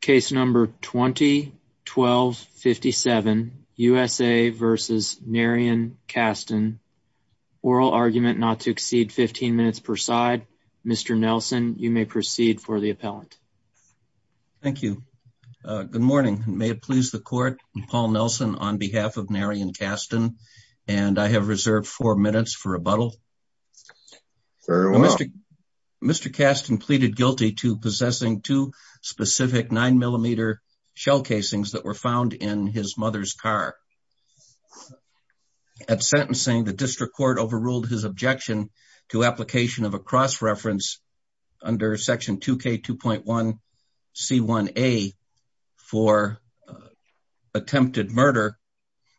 Case number 20-12-57, USA v. Narrion Caston. Oral argument not to exceed 15 minutes per side. Mr. Nelson, you may proceed for the appellant. Thank you. Good morning. May it please the court, Paul Nelson, on behalf of Narrion Caston, and I have reserved four minutes for rebuttal. Very well. Mr. Caston pleaded guilty to possessing two specific 9mm shell casings that were found in his mother's car. At sentencing, the district court overruled his objection to application of a cross-reference under Section 2K2.1C1A for attempted murder,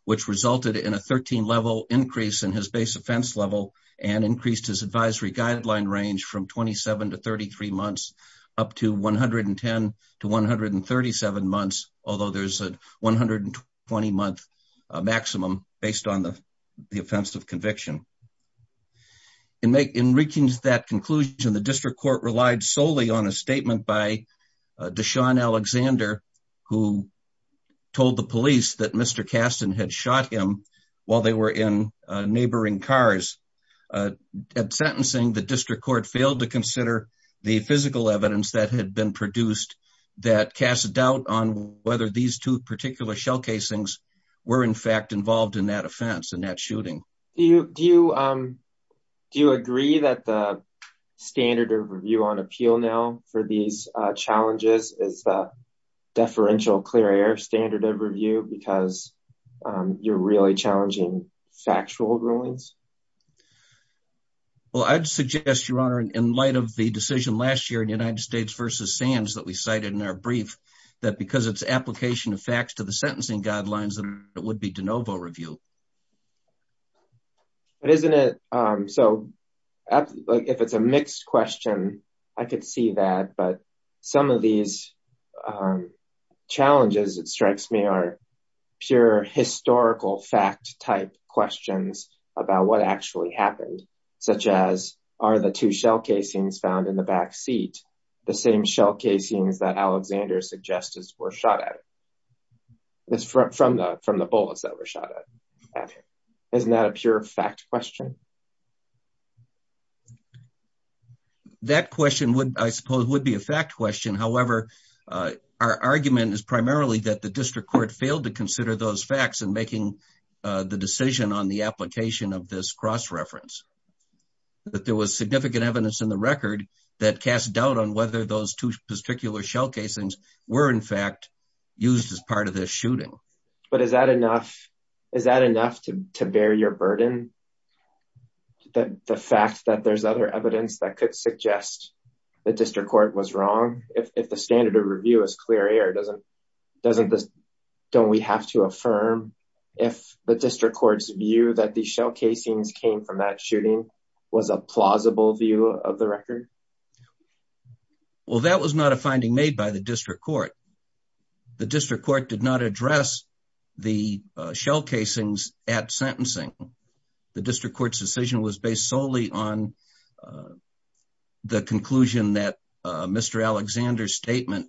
which resulted in a 13-level increase in his base offense level and increased his advisory guideline range from 27 to 33 months up to 110 to 137 months, although there's a 120-month maximum based on the offense of conviction. In reaching that conclusion, the district court relied solely on a statement by Deshaun Alexander, who told the police that Mr. Caston had shot him while they were in neighboring cars. At sentencing, the district court failed to consider the physical evidence that had been produced that cast doubt on whether these two particular shell casings were in fact involved in that offense, in that shooting. Do you agree that the standard of review on appeal now for these challenges is the deferential clear air standard of review because you're really challenging factual rulings? Well, I'd suggest, Your Honor, in light of the decision last year in United States v. Sands that we cited in our brief, that because it's application of facts to the sentencing guidelines, it would be de novo review. But isn't it, so if it's a mixed question, I could see that, but some of these challenges, it strikes me, are pure historical fact-type questions about what actually happened, such as are the two shell casings found in the back seat the same shell casings that Alexander suggests were shot at from the bullets that were shot at? Isn't that a pure fact question? That question, I suppose, would be a fact question. However, our argument is primarily that the district court failed to consider those facts in making the decision on the application of this cross-reference, that there was significant evidence in the record that were, in fact, used as part of this shooting. But is that enough to bear your burden, the fact that there's other evidence that could suggest the district court was wrong? If the standard of review is clear air, don't we have to affirm if the district court's view that the shell casings came from that shooting was a plausible view of the record? Well, that was not a finding made by the district court. The district court did not address the shell casings at sentencing. The district court's decision was based solely on the conclusion that Mr. Alexander's statement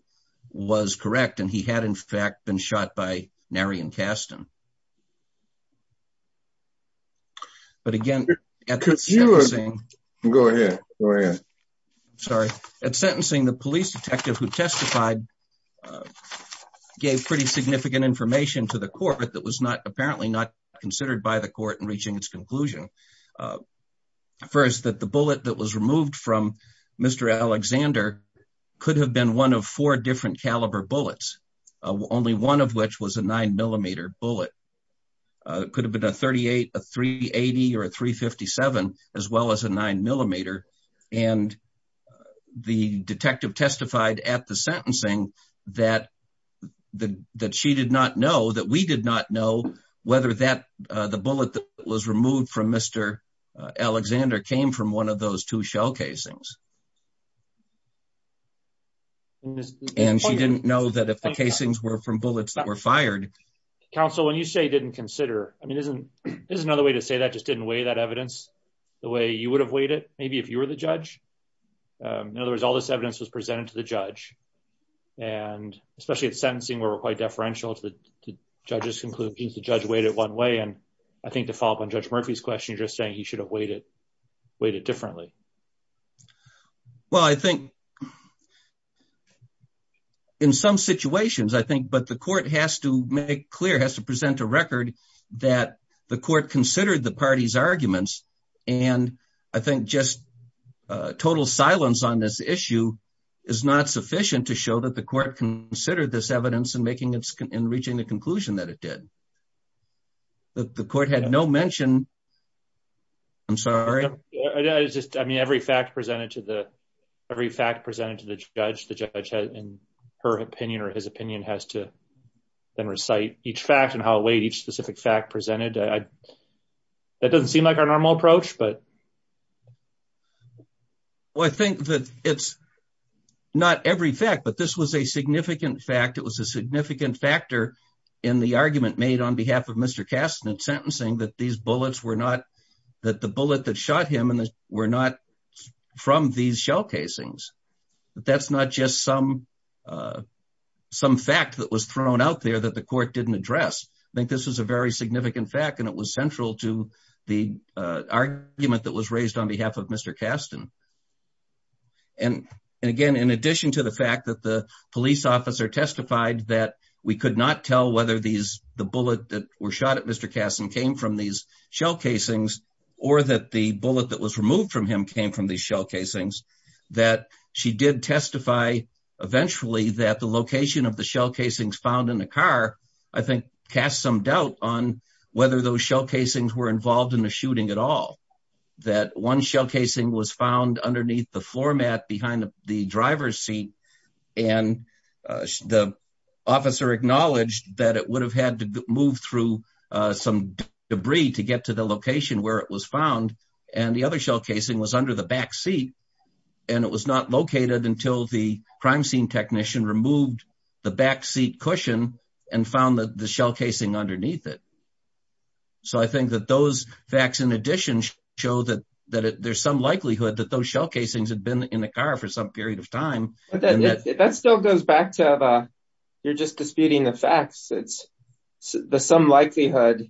was correct, and he had, in fact, been shot by a bullet. At sentencing, the police detective who testified gave pretty significant information to the court that was apparently not considered by the court in reaching its conclusion. First, that the bullet that was removed from Mr. Alexander could have been one of four different caliber bullets, only one of which was a 9-millimeter bullet. It could have been a 38, a 380, or a 357, as well as a 9-millimeter. And the detective testified at the sentencing that she did not know, that we did not know, whether the bullet that was removed from Mr. Alexander came from one of those two shell casings. And she didn't know that if the casings were from bullets that were fired, counsel, when you say didn't consider, I mean, isn't, there's another way to say that just didn't weigh that evidence the way you would have weighed it, maybe if you were the judge. In other words, all this evidence was presented to the judge, and especially at sentencing, where we're quite deferential to the judges conclude the judge weighed it one way. And I think to follow up on Judge Murphy's question, you're just saying he should have weighed it differently. Well, I think in some situations, I think, but the court has to make clear, has to present a record that the court considered the party's arguments. And I think just total silence on this issue is not sufficient to show that the court considered this evidence in reaching the conclusion that it did. The court had no mention, I'm sorry. I mean, every fact presented to the, every fact presented to the judge, the judge had in her opinion, or his opinion has to then recite each fact and how it weighed each specific fact presented. That doesn't seem like our normal approach, but. Well, I think that it's not every fact, but this was a significant fact. It was a significant factor in the argument made on behalf of Mr. Kastner at sentencing, that these bullets were that the bullet that shot him and that were not from these shell casings, that that's not just some fact that was thrown out there that the court didn't address. I think this was a very significant fact and it was central to the argument that was raised on behalf of Mr. Kastner. And again, in addition to the fact that the police officer testified that we could not tell whether the bullet that were shot at Mr. Kastner came from these shell casings or that the bullet that was removed from him came from the shell casings, that she did testify eventually that the location of the shell casings found in the car, I think cast some doubt on whether those shell casings were involved in the shooting at all. That one shell casing was found underneath the floor mat behind the driver's seat and the officer acknowledged that it would have had to move through some debris to get to the location where it was found and the other shell casing was under the back seat and it was not located until the crime scene technician removed the back seat cushion and found the shell casing underneath it. So, I think that those facts in addition show that there's some likelihood that those shell casings had been in the car for some period of time. That still goes back to you're just disputing the facts. It's the some likelihood,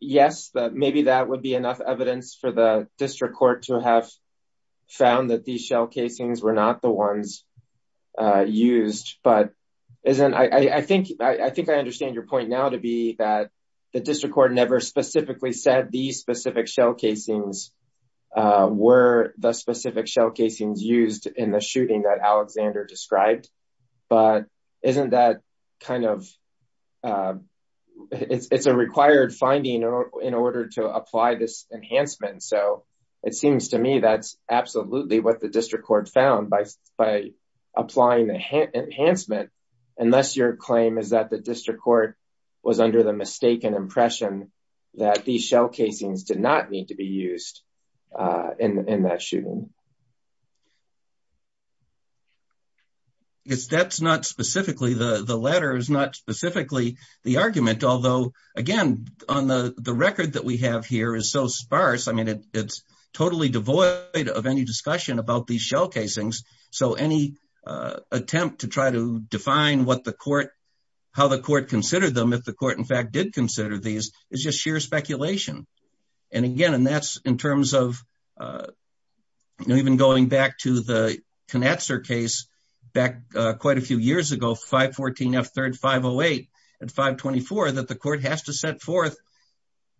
yes, that maybe that would be enough evidence for the district court to have found that these shell casings were not the ones used. But I think I understand your point now to be that the district court never specifically said these specific shell casings were the specific shell casings used in the shooting that Alexander described. But isn't that kind of, it's a required finding in order to apply this enhancement. So, it seems to me that's absolutely what the district court found by applying the enhancement unless your claim is that the district court was under the state and impression that these shell casings did not need to be used in that shooting. That's not specifically, the latter is not specifically the argument. Although, again, on the record that we have here is so sparse. I mean, it's totally devoid of any discussion about these shell casings. So, any attempt to try to define what the court, how the court considered them, if the court, in fact, did consider these is just sheer speculation. And again, and that's in terms of, you know, even going back to the Knatzer case back quite a few years ago, 514 F 3rd 508 at 524, that the court has to set forth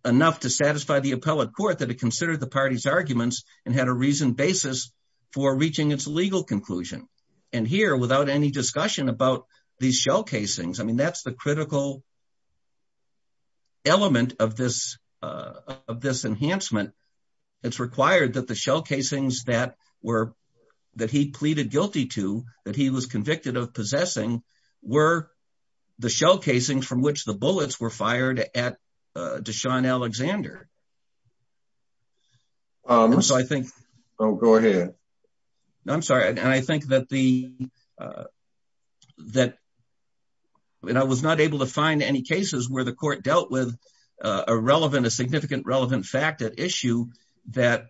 enough to satisfy the appellate court that it considered the party's arguments and had a reason basis for reaching its legal conclusion. And here, without any discussion about these shell casings, I mean, that's the critical element of this enhancement. It's required that the shell casings that were, that he pleaded guilty to, that he was convicted of possessing, were the shell casings from which the bullets were fired at Deshaun Alexander. So, I think. Oh, go ahead. I'm sorry. And I think that the, that I was not able to find any cases where the court dealt with a relevant, a significant relevant fact at issue that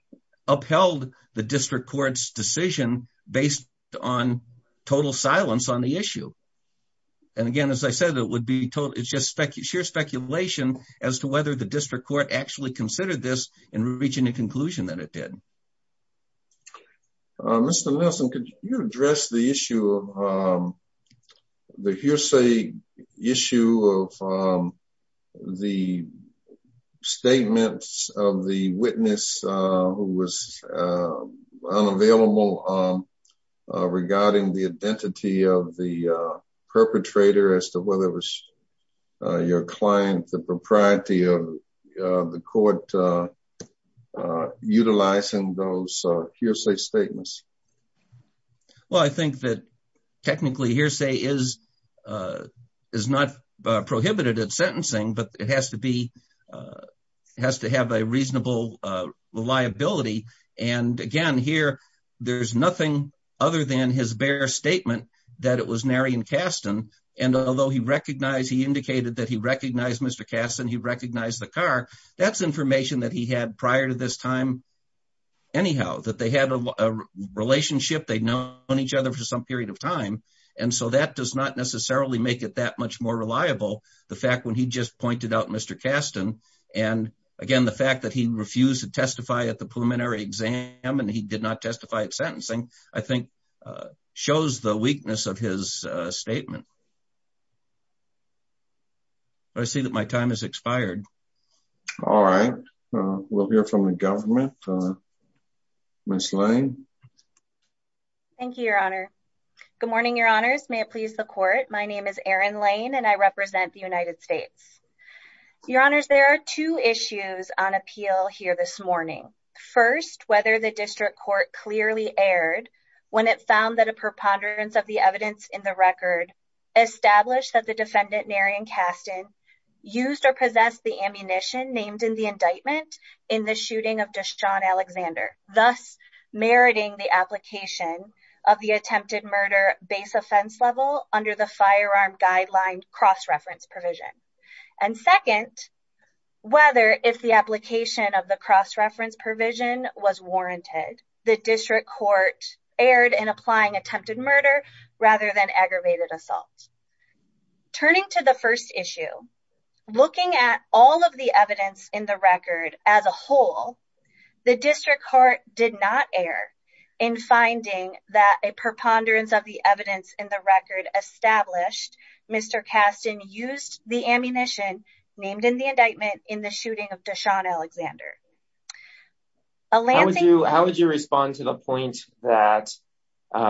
upheld the district court's decision based on total silence on the speculation as to whether the district court actually considered this and reaching a conclusion that it did. Mr. Nelson, could you address the issue of the hearsay issue of the statements of the witness who was unavailable regarding the identity of the perpetrator as to whether it was your client, the propriety of the court, utilizing those hearsay statements? Well, I think that technically hearsay is not prohibited at sentencing, but it has to be, it has to have a reasonable reliability. And again, here, there's nothing other than his statement that it was Narion Kasten. And although he recognized, he indicated that he recognized Mr. Kasten, he recognized the car, that's information that he had prior to this time. Anyhow, that they had a relationship, they'd known each other for some period of time. And so that does not necessarily make it that much more reliable. The fact when he just pointed out Mr. Kasten, and again, the fact that he refused to testify at the preliminary exam, and he did not testify at sentencing, I think, shows the weakness of his statement. I see that my time has expired. All right. We'll hear from the government. Ms. Lane. Thank you, Your Honor. Good morning, Your Honors. May it please the court. My name is Erin Lane, and I represent the United States. Your Honors, there are two issues on appeal here this morning. First, whether the district court clearly erred when it found that a preponderance of the evidence in the record established that the defendant, Narion Kasten, used or possessed the ammunition named in the indictment in the shooting of Deshaun Alexander, thus meriting the application of the attempted murder base offense level under the firearm guideline cross-reference provision. And second, whether, if the application of the cross-reference provision was warranted, the district court erred in applying attempted murder rather than aggravated assault. Turning to the first issue, looking at all of the evidence in the record as a whole, the district court did not err in finding that a preponderance of the evidence in the record established Mr. Kasten used the ammunition named in the indictment in the shooting of Deshaun Alexander. How would you respond to the point that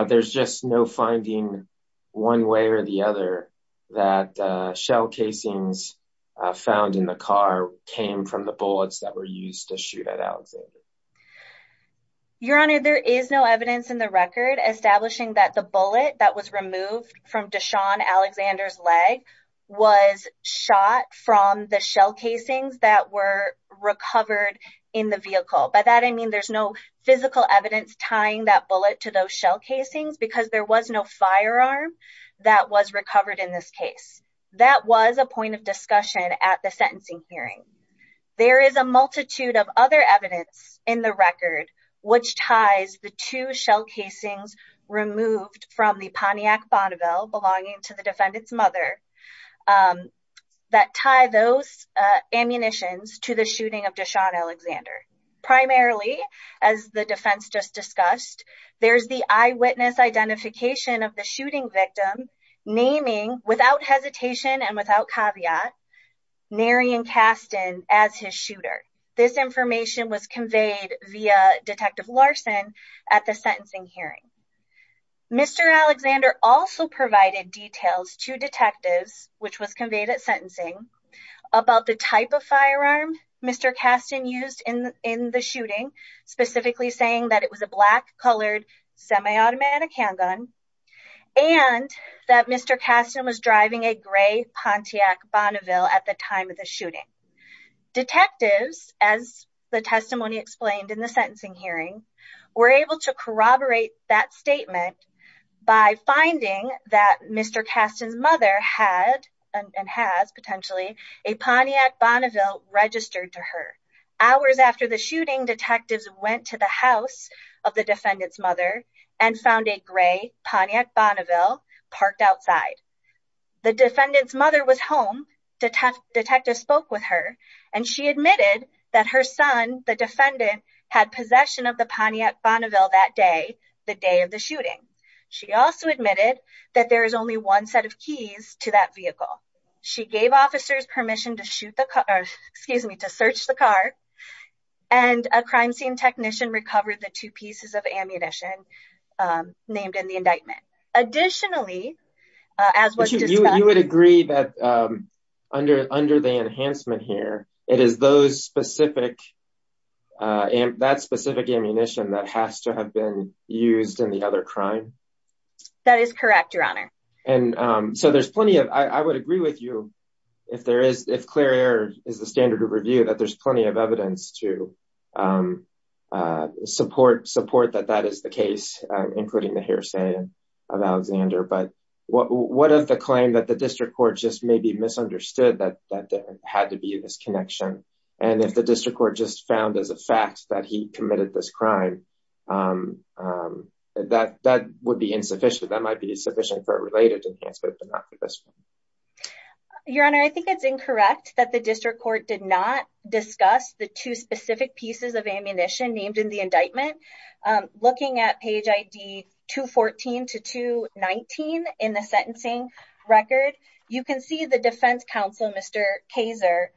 there's just no finding one way or the other that shell casings found in the car came from the bullets that were used to shoot at Alexander? Your Honor, there is no evidence in the record establishing that the bullet that was removed from Deshaun Alexander's leg was shot from the shell casings that were recovered in the vehicle. By that I mean there's no physical evidence tying that bullet to those shell casings because there was no firearm that was recovered in this case. That was a point of discussion at the sentencing hearing. There is a multitude of other evidence in the record which ties the two shell casings removed from the Pontiac Bonneville belonging to the defendant's mother that tie those ammunitions to the shooting of Deshaun Alexander. Primarily, as the defense just discussed, there's the eyewitness identification of the shooting victim naming, without hesitation and without caveat, Narion Kasten as his shooter. This information was Mr. Alexander also provided details to detectives, which was conveyed at sentencing, about the type of firearm Mr. Kasten used in the shooting, specifically saying that it was a black colored semi-automatic handgun, and that Mr. Kasten was driving a gray Pontiac Bonneville at the time of the shooting. Detectives, as the testimony explained in the sentencing hearing, were able to corroborate that statement by finding that Mr. Kasten's mother had, and has potentially, a Pontiac Bonneville registered to her. Hours after the shooting, detectives went to the house of the defendant's mother and found a gray Pontiac Bonneville parked outside. The defendant's mother was home, detectives spoke with her, and she admitted that her son, the defendant, had possession of the Pontiac Bonneville that day, the day of the shooting. She also admitted that there is only one set of keys to that vehicle. She gave officers permission to shoot the car, excuse me, to search the car, and a crime scene technician recovered the two pieces of ammunition named in the indictment. Additionally, as what you would agree that under the enhancement here, it is those specific, that specific ammunition that has to have been used in the other crime? That is correct, your honor. And so there's plenty of, I would agree with you, if there is, if clear air is the standard of review, that there's plenty of evidence to support that that is the case, including the hearsay of Alexander, but what of the claim that the district court just maybe misunderstood that there had to be this connection, and if the district court just found as a fact that he committed this crime, that would be insufficient. That might be sufficient for a related enhancement, but not for this one. Your honor, I think it's incorrect that the district court did not discuss the two specific pieces of ammunition named in the indictment. Looking at page ID 214 to 219 in the sentencing record, you can see the defense counsel, Mr. Kazer,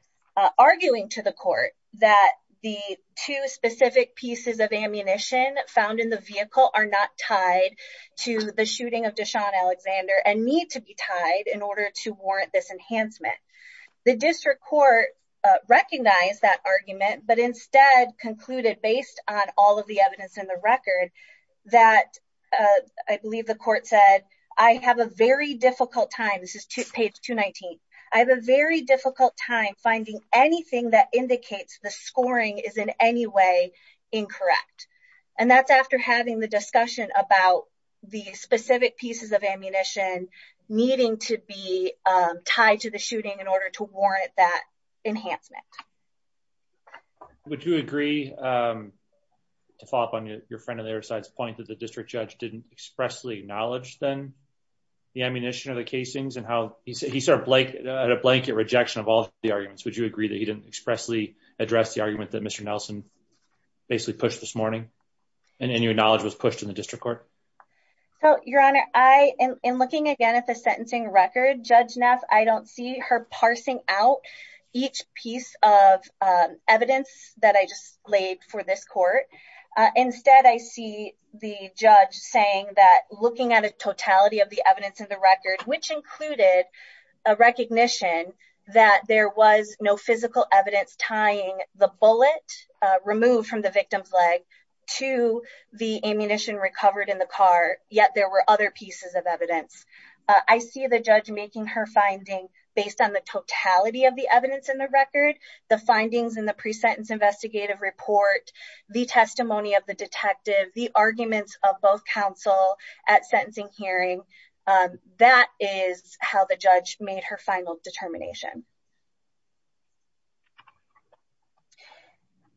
arguing to the court that the two specific pieces of ammunition found in the vehicle are not tied to the shooting of Deshawn Alexander, and need to be tied in order to warrant this enhancement. The district court recognized that argument, but instead concluded based on all of the evidence in the record that, I believe the court said, I have a very difficult time, this is page 219, I have a very difficult time finding anything that indicates the scoring is in any way incorrect, and that's after having the discussion about the specific pieces of ammunition needing to be tied to the shooting in order to warrant that enhancement. Would you agree, to follow up on your friend on the other point, that the district judge didn't expressly acknowledge then the ammunition of the casings, and how he started at a blanket rejection of all the arguments. Would you agree that he didn't expressly address the argument that Mr. Nelson basically pushed this morning, and in your knowledge was pushed in the district court? So, your honor, I am looking again at the sentencing record. Judge Neff, I don't see her parsing out each piece of evidence that I just laid for this the judge saying that looking at a totality of the evidence in the record, which included a recognition that there was no physical evidence tying the bullet removed from the victim's leg to the ammunition recovered in the car, yet there were other pieces of evidence. I see the judge making her finding based on the totality of the evidence in the record, the findings in the of both counsel at sentencing hearing. That is how the judge made her final determination.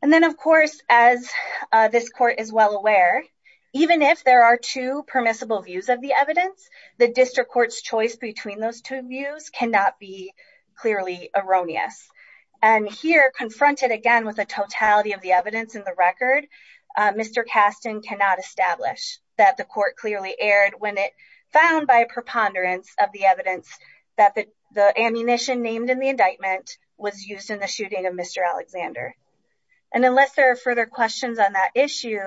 And then, of course, as this court is well aware, even if there are two permissible views of the evidence, the district court's choice between those two views cannot be clearly erroneous. And here, confronted again with a totality of the evidence in the record, Mr. Kasten cannot establish that the court clearly erred when it found by a preponderance of the evidence that the ammunition named in the indictment was used in the shooting of Mr. Alexander. And unless there are further questions on that issue,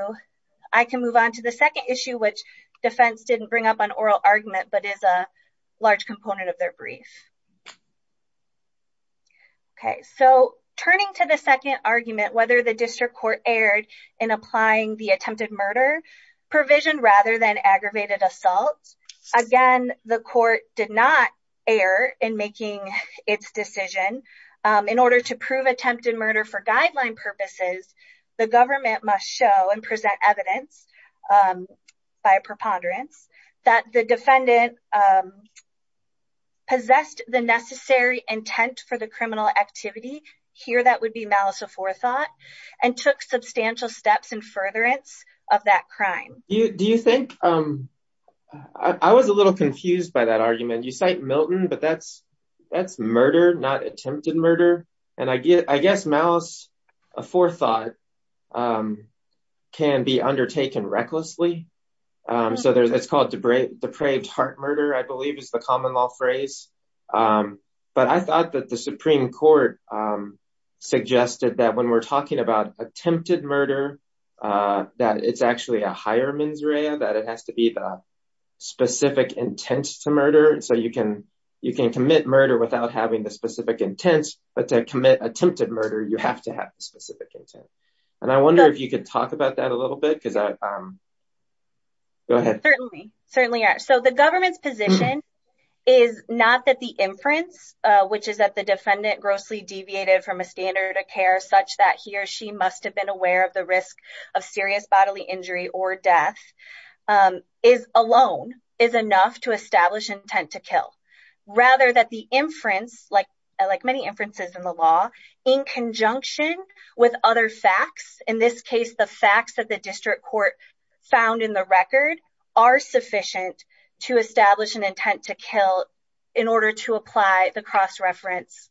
I can move on to the second issue, which defense didn't bring up on oral argument, but is a large component of their brief. Okay, so turning to the second argument, whether the district court erred in applying the attempted murder provision rather than aggravated assault. Again, the court did not err in making its decision. In order to prove attempted murder for guideline purposes, the government must show and the necessary intent for the criminal activity. Here, that would be malice of forethought and took substantial steps in furtherance of that crime. Do you think, I was a little confused by that argument. You cite Milton, but that's murder, not attempted murder. And I guess malice of forethought can be undertaken recklessly. So it's called depraved heart murder, I believe is the common phrase. But I thought that the Supreme Court suggested that when we're talking about attempted murder, that it's actually a higher mens rea, that it has to be the specific intent to murder. So you can, you can commit murder without having the specific intent, but to commit attempted murder, you have to have specific intent. And I wonder if you could talk about that a little bit because I certainly certainly are. So the government's position is not that the inference, which is that the defendant grossly deviated from a standard of care such that he or she must have been aware of the risk of serious bodily injury or death is alone is enough to establish intent to kill. Rather that the inference, like, like many inferences in the law, in conjunction with other facts, in this case, the facts that the district court found in the record are sufficient to establish an intent to kill in order to apply the cross reference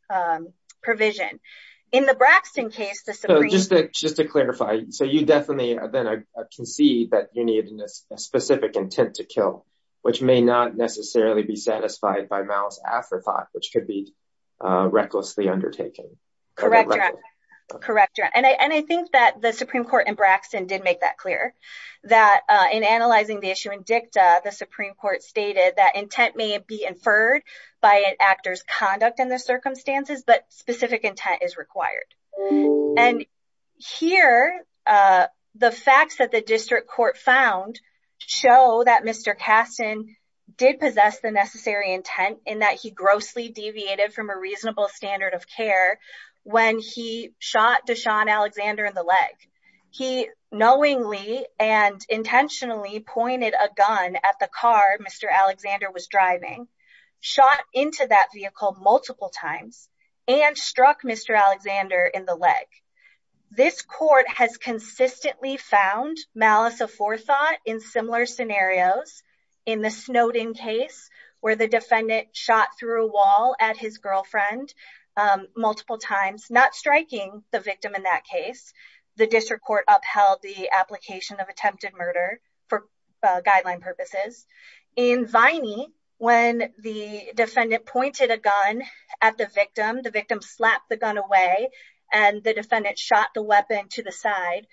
provision in the Braxton case. So just to just to clarify, so you definitely then I can see that you need a specific intent to kill, which may not necessarily be satisfied by malice of forethought, which could be that the Supreme Court in Braxton did make that clear that in analyzing the issue in dicta, the Supreme Court stated that intent may be inferred by an actor's conduct in the circumstances, but specific intent is required. And here, the facts that the district court found show that Mr. Kasten did possess the necessary intent in that he grossly deviated from a leg. He knowingly and intentionally pointed a gun at the car Mr. Alexander was driving, shot into that vehicle multiple times, and struck Mr. Alexander in the leg. This court has consistently found malice of forethought in similar scenarios. In the Snowden case, where the defendant shot through a wall at his girlfriend multiple times, not striking the victim in that case, the district court upheld the application of attempted murder for guideline purposes. In Viney, when the defendant pointed a gun at the victim, the victim slapped the gun away, and the defendant shot the weapon to the side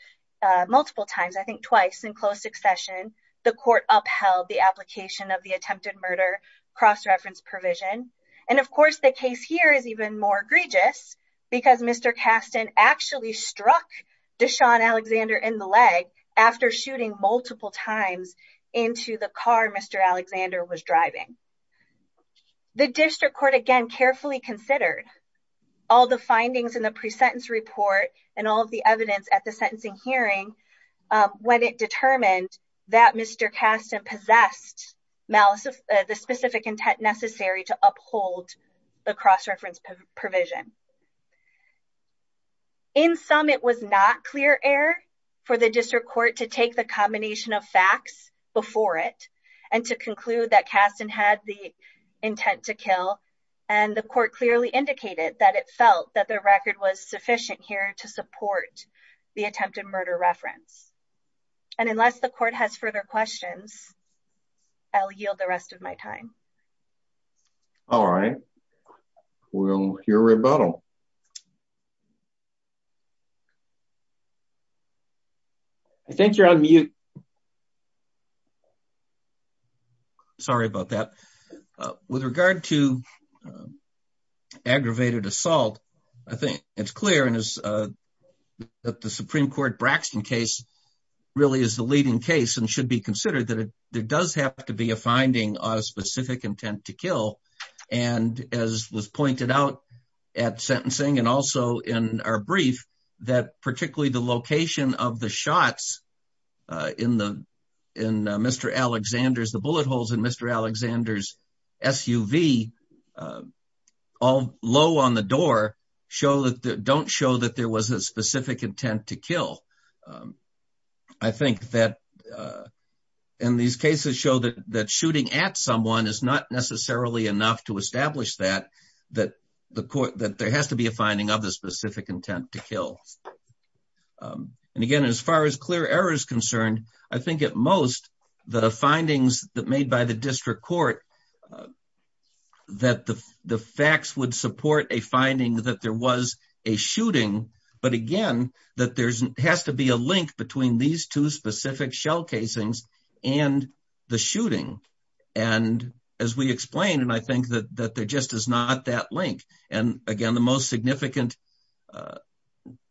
multiple times, I think twice in close succession, the court upheld the application of the attempted murder cross reference provision. And of course, the case here is even more egregious, because Mr. Kasten actually struck Deshaun Alexander in the leg after shooting multiple times into the car Mr. Alexander was driving. The district court again, carefully considered all the findings in the presentence report, and all the evidence at the sentencing hearing, when it determined that Mr. Kasten possessed malice of the specific intent necessary to uphold the cross reference provision. In sum, it was not clear error for the district court to take the combination of facts before it, and to conclude that Kasten had the intent to kill, and the court clearly indicated that it felt that the record was sufficient here to support the attempted murder reference. And unless the court has further questions, I'll yield the rest of my time. All right, we'll hear rebuttal. I think you're on mute. Sorry about that. With regard to aggravated assault, I think it's clear and is that the there does have to be a finding on a specific intent to kill. And as was pointed out at sentencing, and also in our brief, that particularly the location of the shots in the, in Mr. Alexander's, the bullet holes in Mr. Alexander's SUV, all low on the door, don't show that there was a specific intent to kill. I think that in these cases show that that shooting at someone is not necessarily enough to establish that, that the court, that there has to be a finding of the specific intent to kill. And again, as far as clear error is concerned, I think at most, the findings that made by the district court, that the facts would support a finding that there was a shooting, but again, that there's has to be a link between these two specific shell casings and the shooting. And as we explained, and I think that, that there just is not that link. And again, the most significant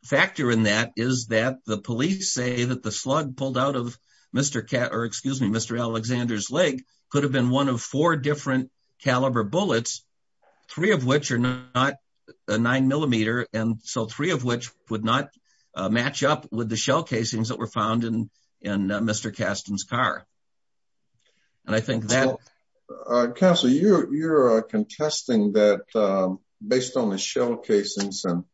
factor in that is that the police say that the slug pulled out of Mr. Cat or excuse me, Mr. Alexander's leg could have been one of four different caliber bullets, three of which are not a nine millimeter. And so three of which would not match up with the shell casings that were found in, in Mr. Caston's car. And I think that. Counselor, you're, you're contesting that based on the shell casings and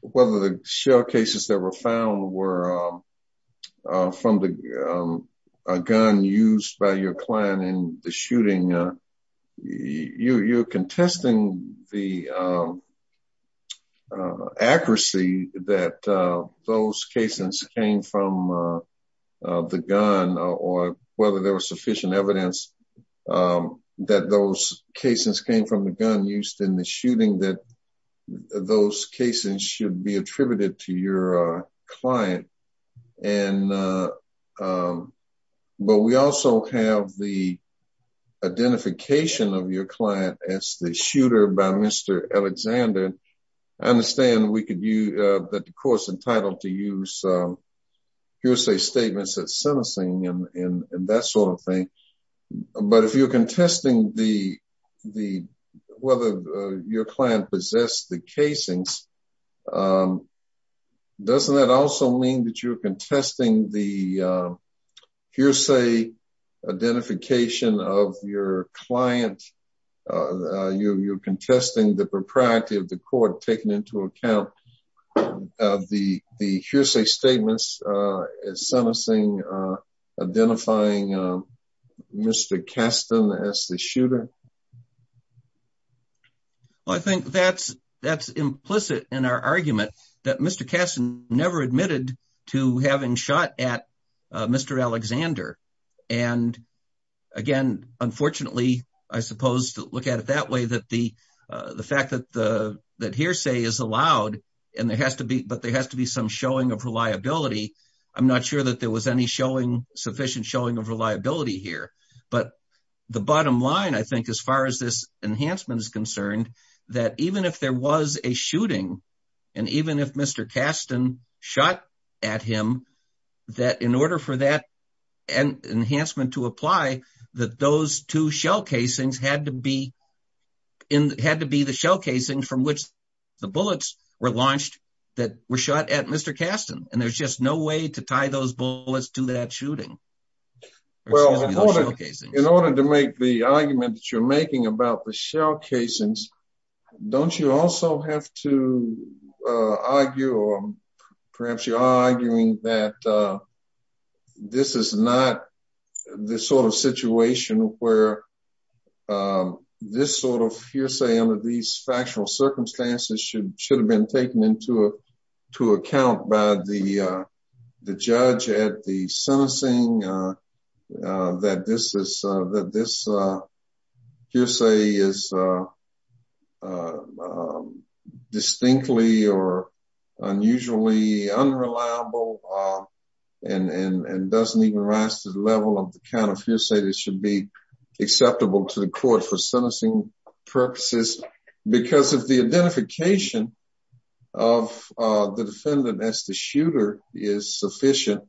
whether the shell cases that were found were from the gun used by your client in the shooting. You, you're contesting the accuracy that those casings came from the gun or whether there was sufficient evidence that those casings came from the gun used in the shooting that those casings should be attributed to your client. And, but we also have the identification of your client as the shooter by Mr. Alexander. I understand we could use, that the court's entitled to use hearsay statements that sentencing and that sort of thing. But if you're contesting the, whether your client possessed the casings, doesn't that also mean that you're contesting the hearsay identification of your client? You're, you're contesting the propriety of the court taking into account the, the hearsay statements sentencing, identifying Mr. Caston as the shooter? Well, I think that's, that's implicit in our argument that Mr. Caston never admitted to having shot at Mr. Alexander. And again, unfortunately, I suppose to look at it that way, that the, the fact that the, that hearsay is allowed and there has to be, but there has to be some showing of reliability. I'm not sure that there was any showing, sufficient showing of reliability here, but the bottom line, I think, as far as this enhancement is concerned, that even if there was a shooting and even if Mr. Caston shot at him, that in order for that enhancement to apply, that those two shell casings had to be in, had to be the shell casings from which the bullets were launched, that were shot at Mr. Caston. And there's just no way to tie those bullets to that In order to make the argument that you're making about the shell casings, don't you also have to argue, or perhaps you are arguing that this is not the sort of situation where this sort of hearsay under these factual circumstances should, should have been taken into to account by the judge at the sentencing, that this hearsay is distinctly or unusually unreliable and doesn't even rise to the level of the kind of hearsay that should be acceptable to the court for sentencing purposes, because of the identification of the defendant as the shooter is sufficient.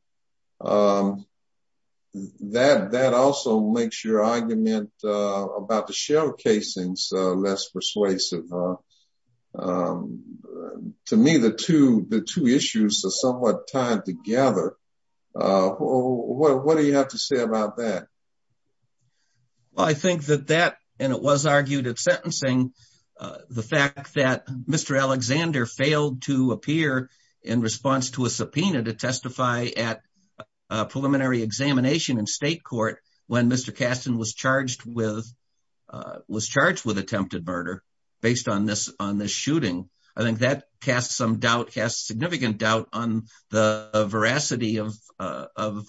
That also makes your argument about the shell casings less persuasive. To me, the two issues are somewhat tied together. What do you have to say about that? Well, I think that that, and it was argued at sentencing, the fact that Mr. Alexander failed to appear in response to a subpoena to testify at a preliminary examination in state court, when Mr. Caston was charged with, was charged with attempted murder, based on this, on this shooting. I think that casts some doubt, casts significant doubt on the veracity of, of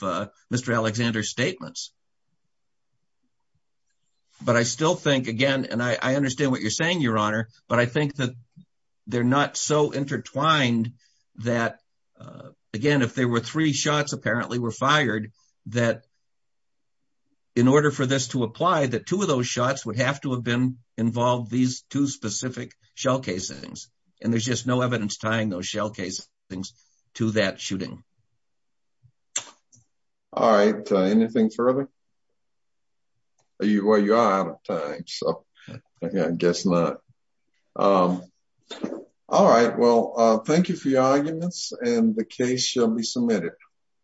Mr. Alexander's statements. But I still think, again, and I understand what you're saying, Your Honor, but I think that they're not so intertwined that, again, if there were three shots apparently were fired, that in order for this to apply, that two of those shots would have to have been involved, these two specific shell casings, and there's just no evidence tying those things to that shooting. All right, anything further? Are you, well, you're out of time, so I guess not. All right, well, thank you for your arguments, and the case shall be submitted.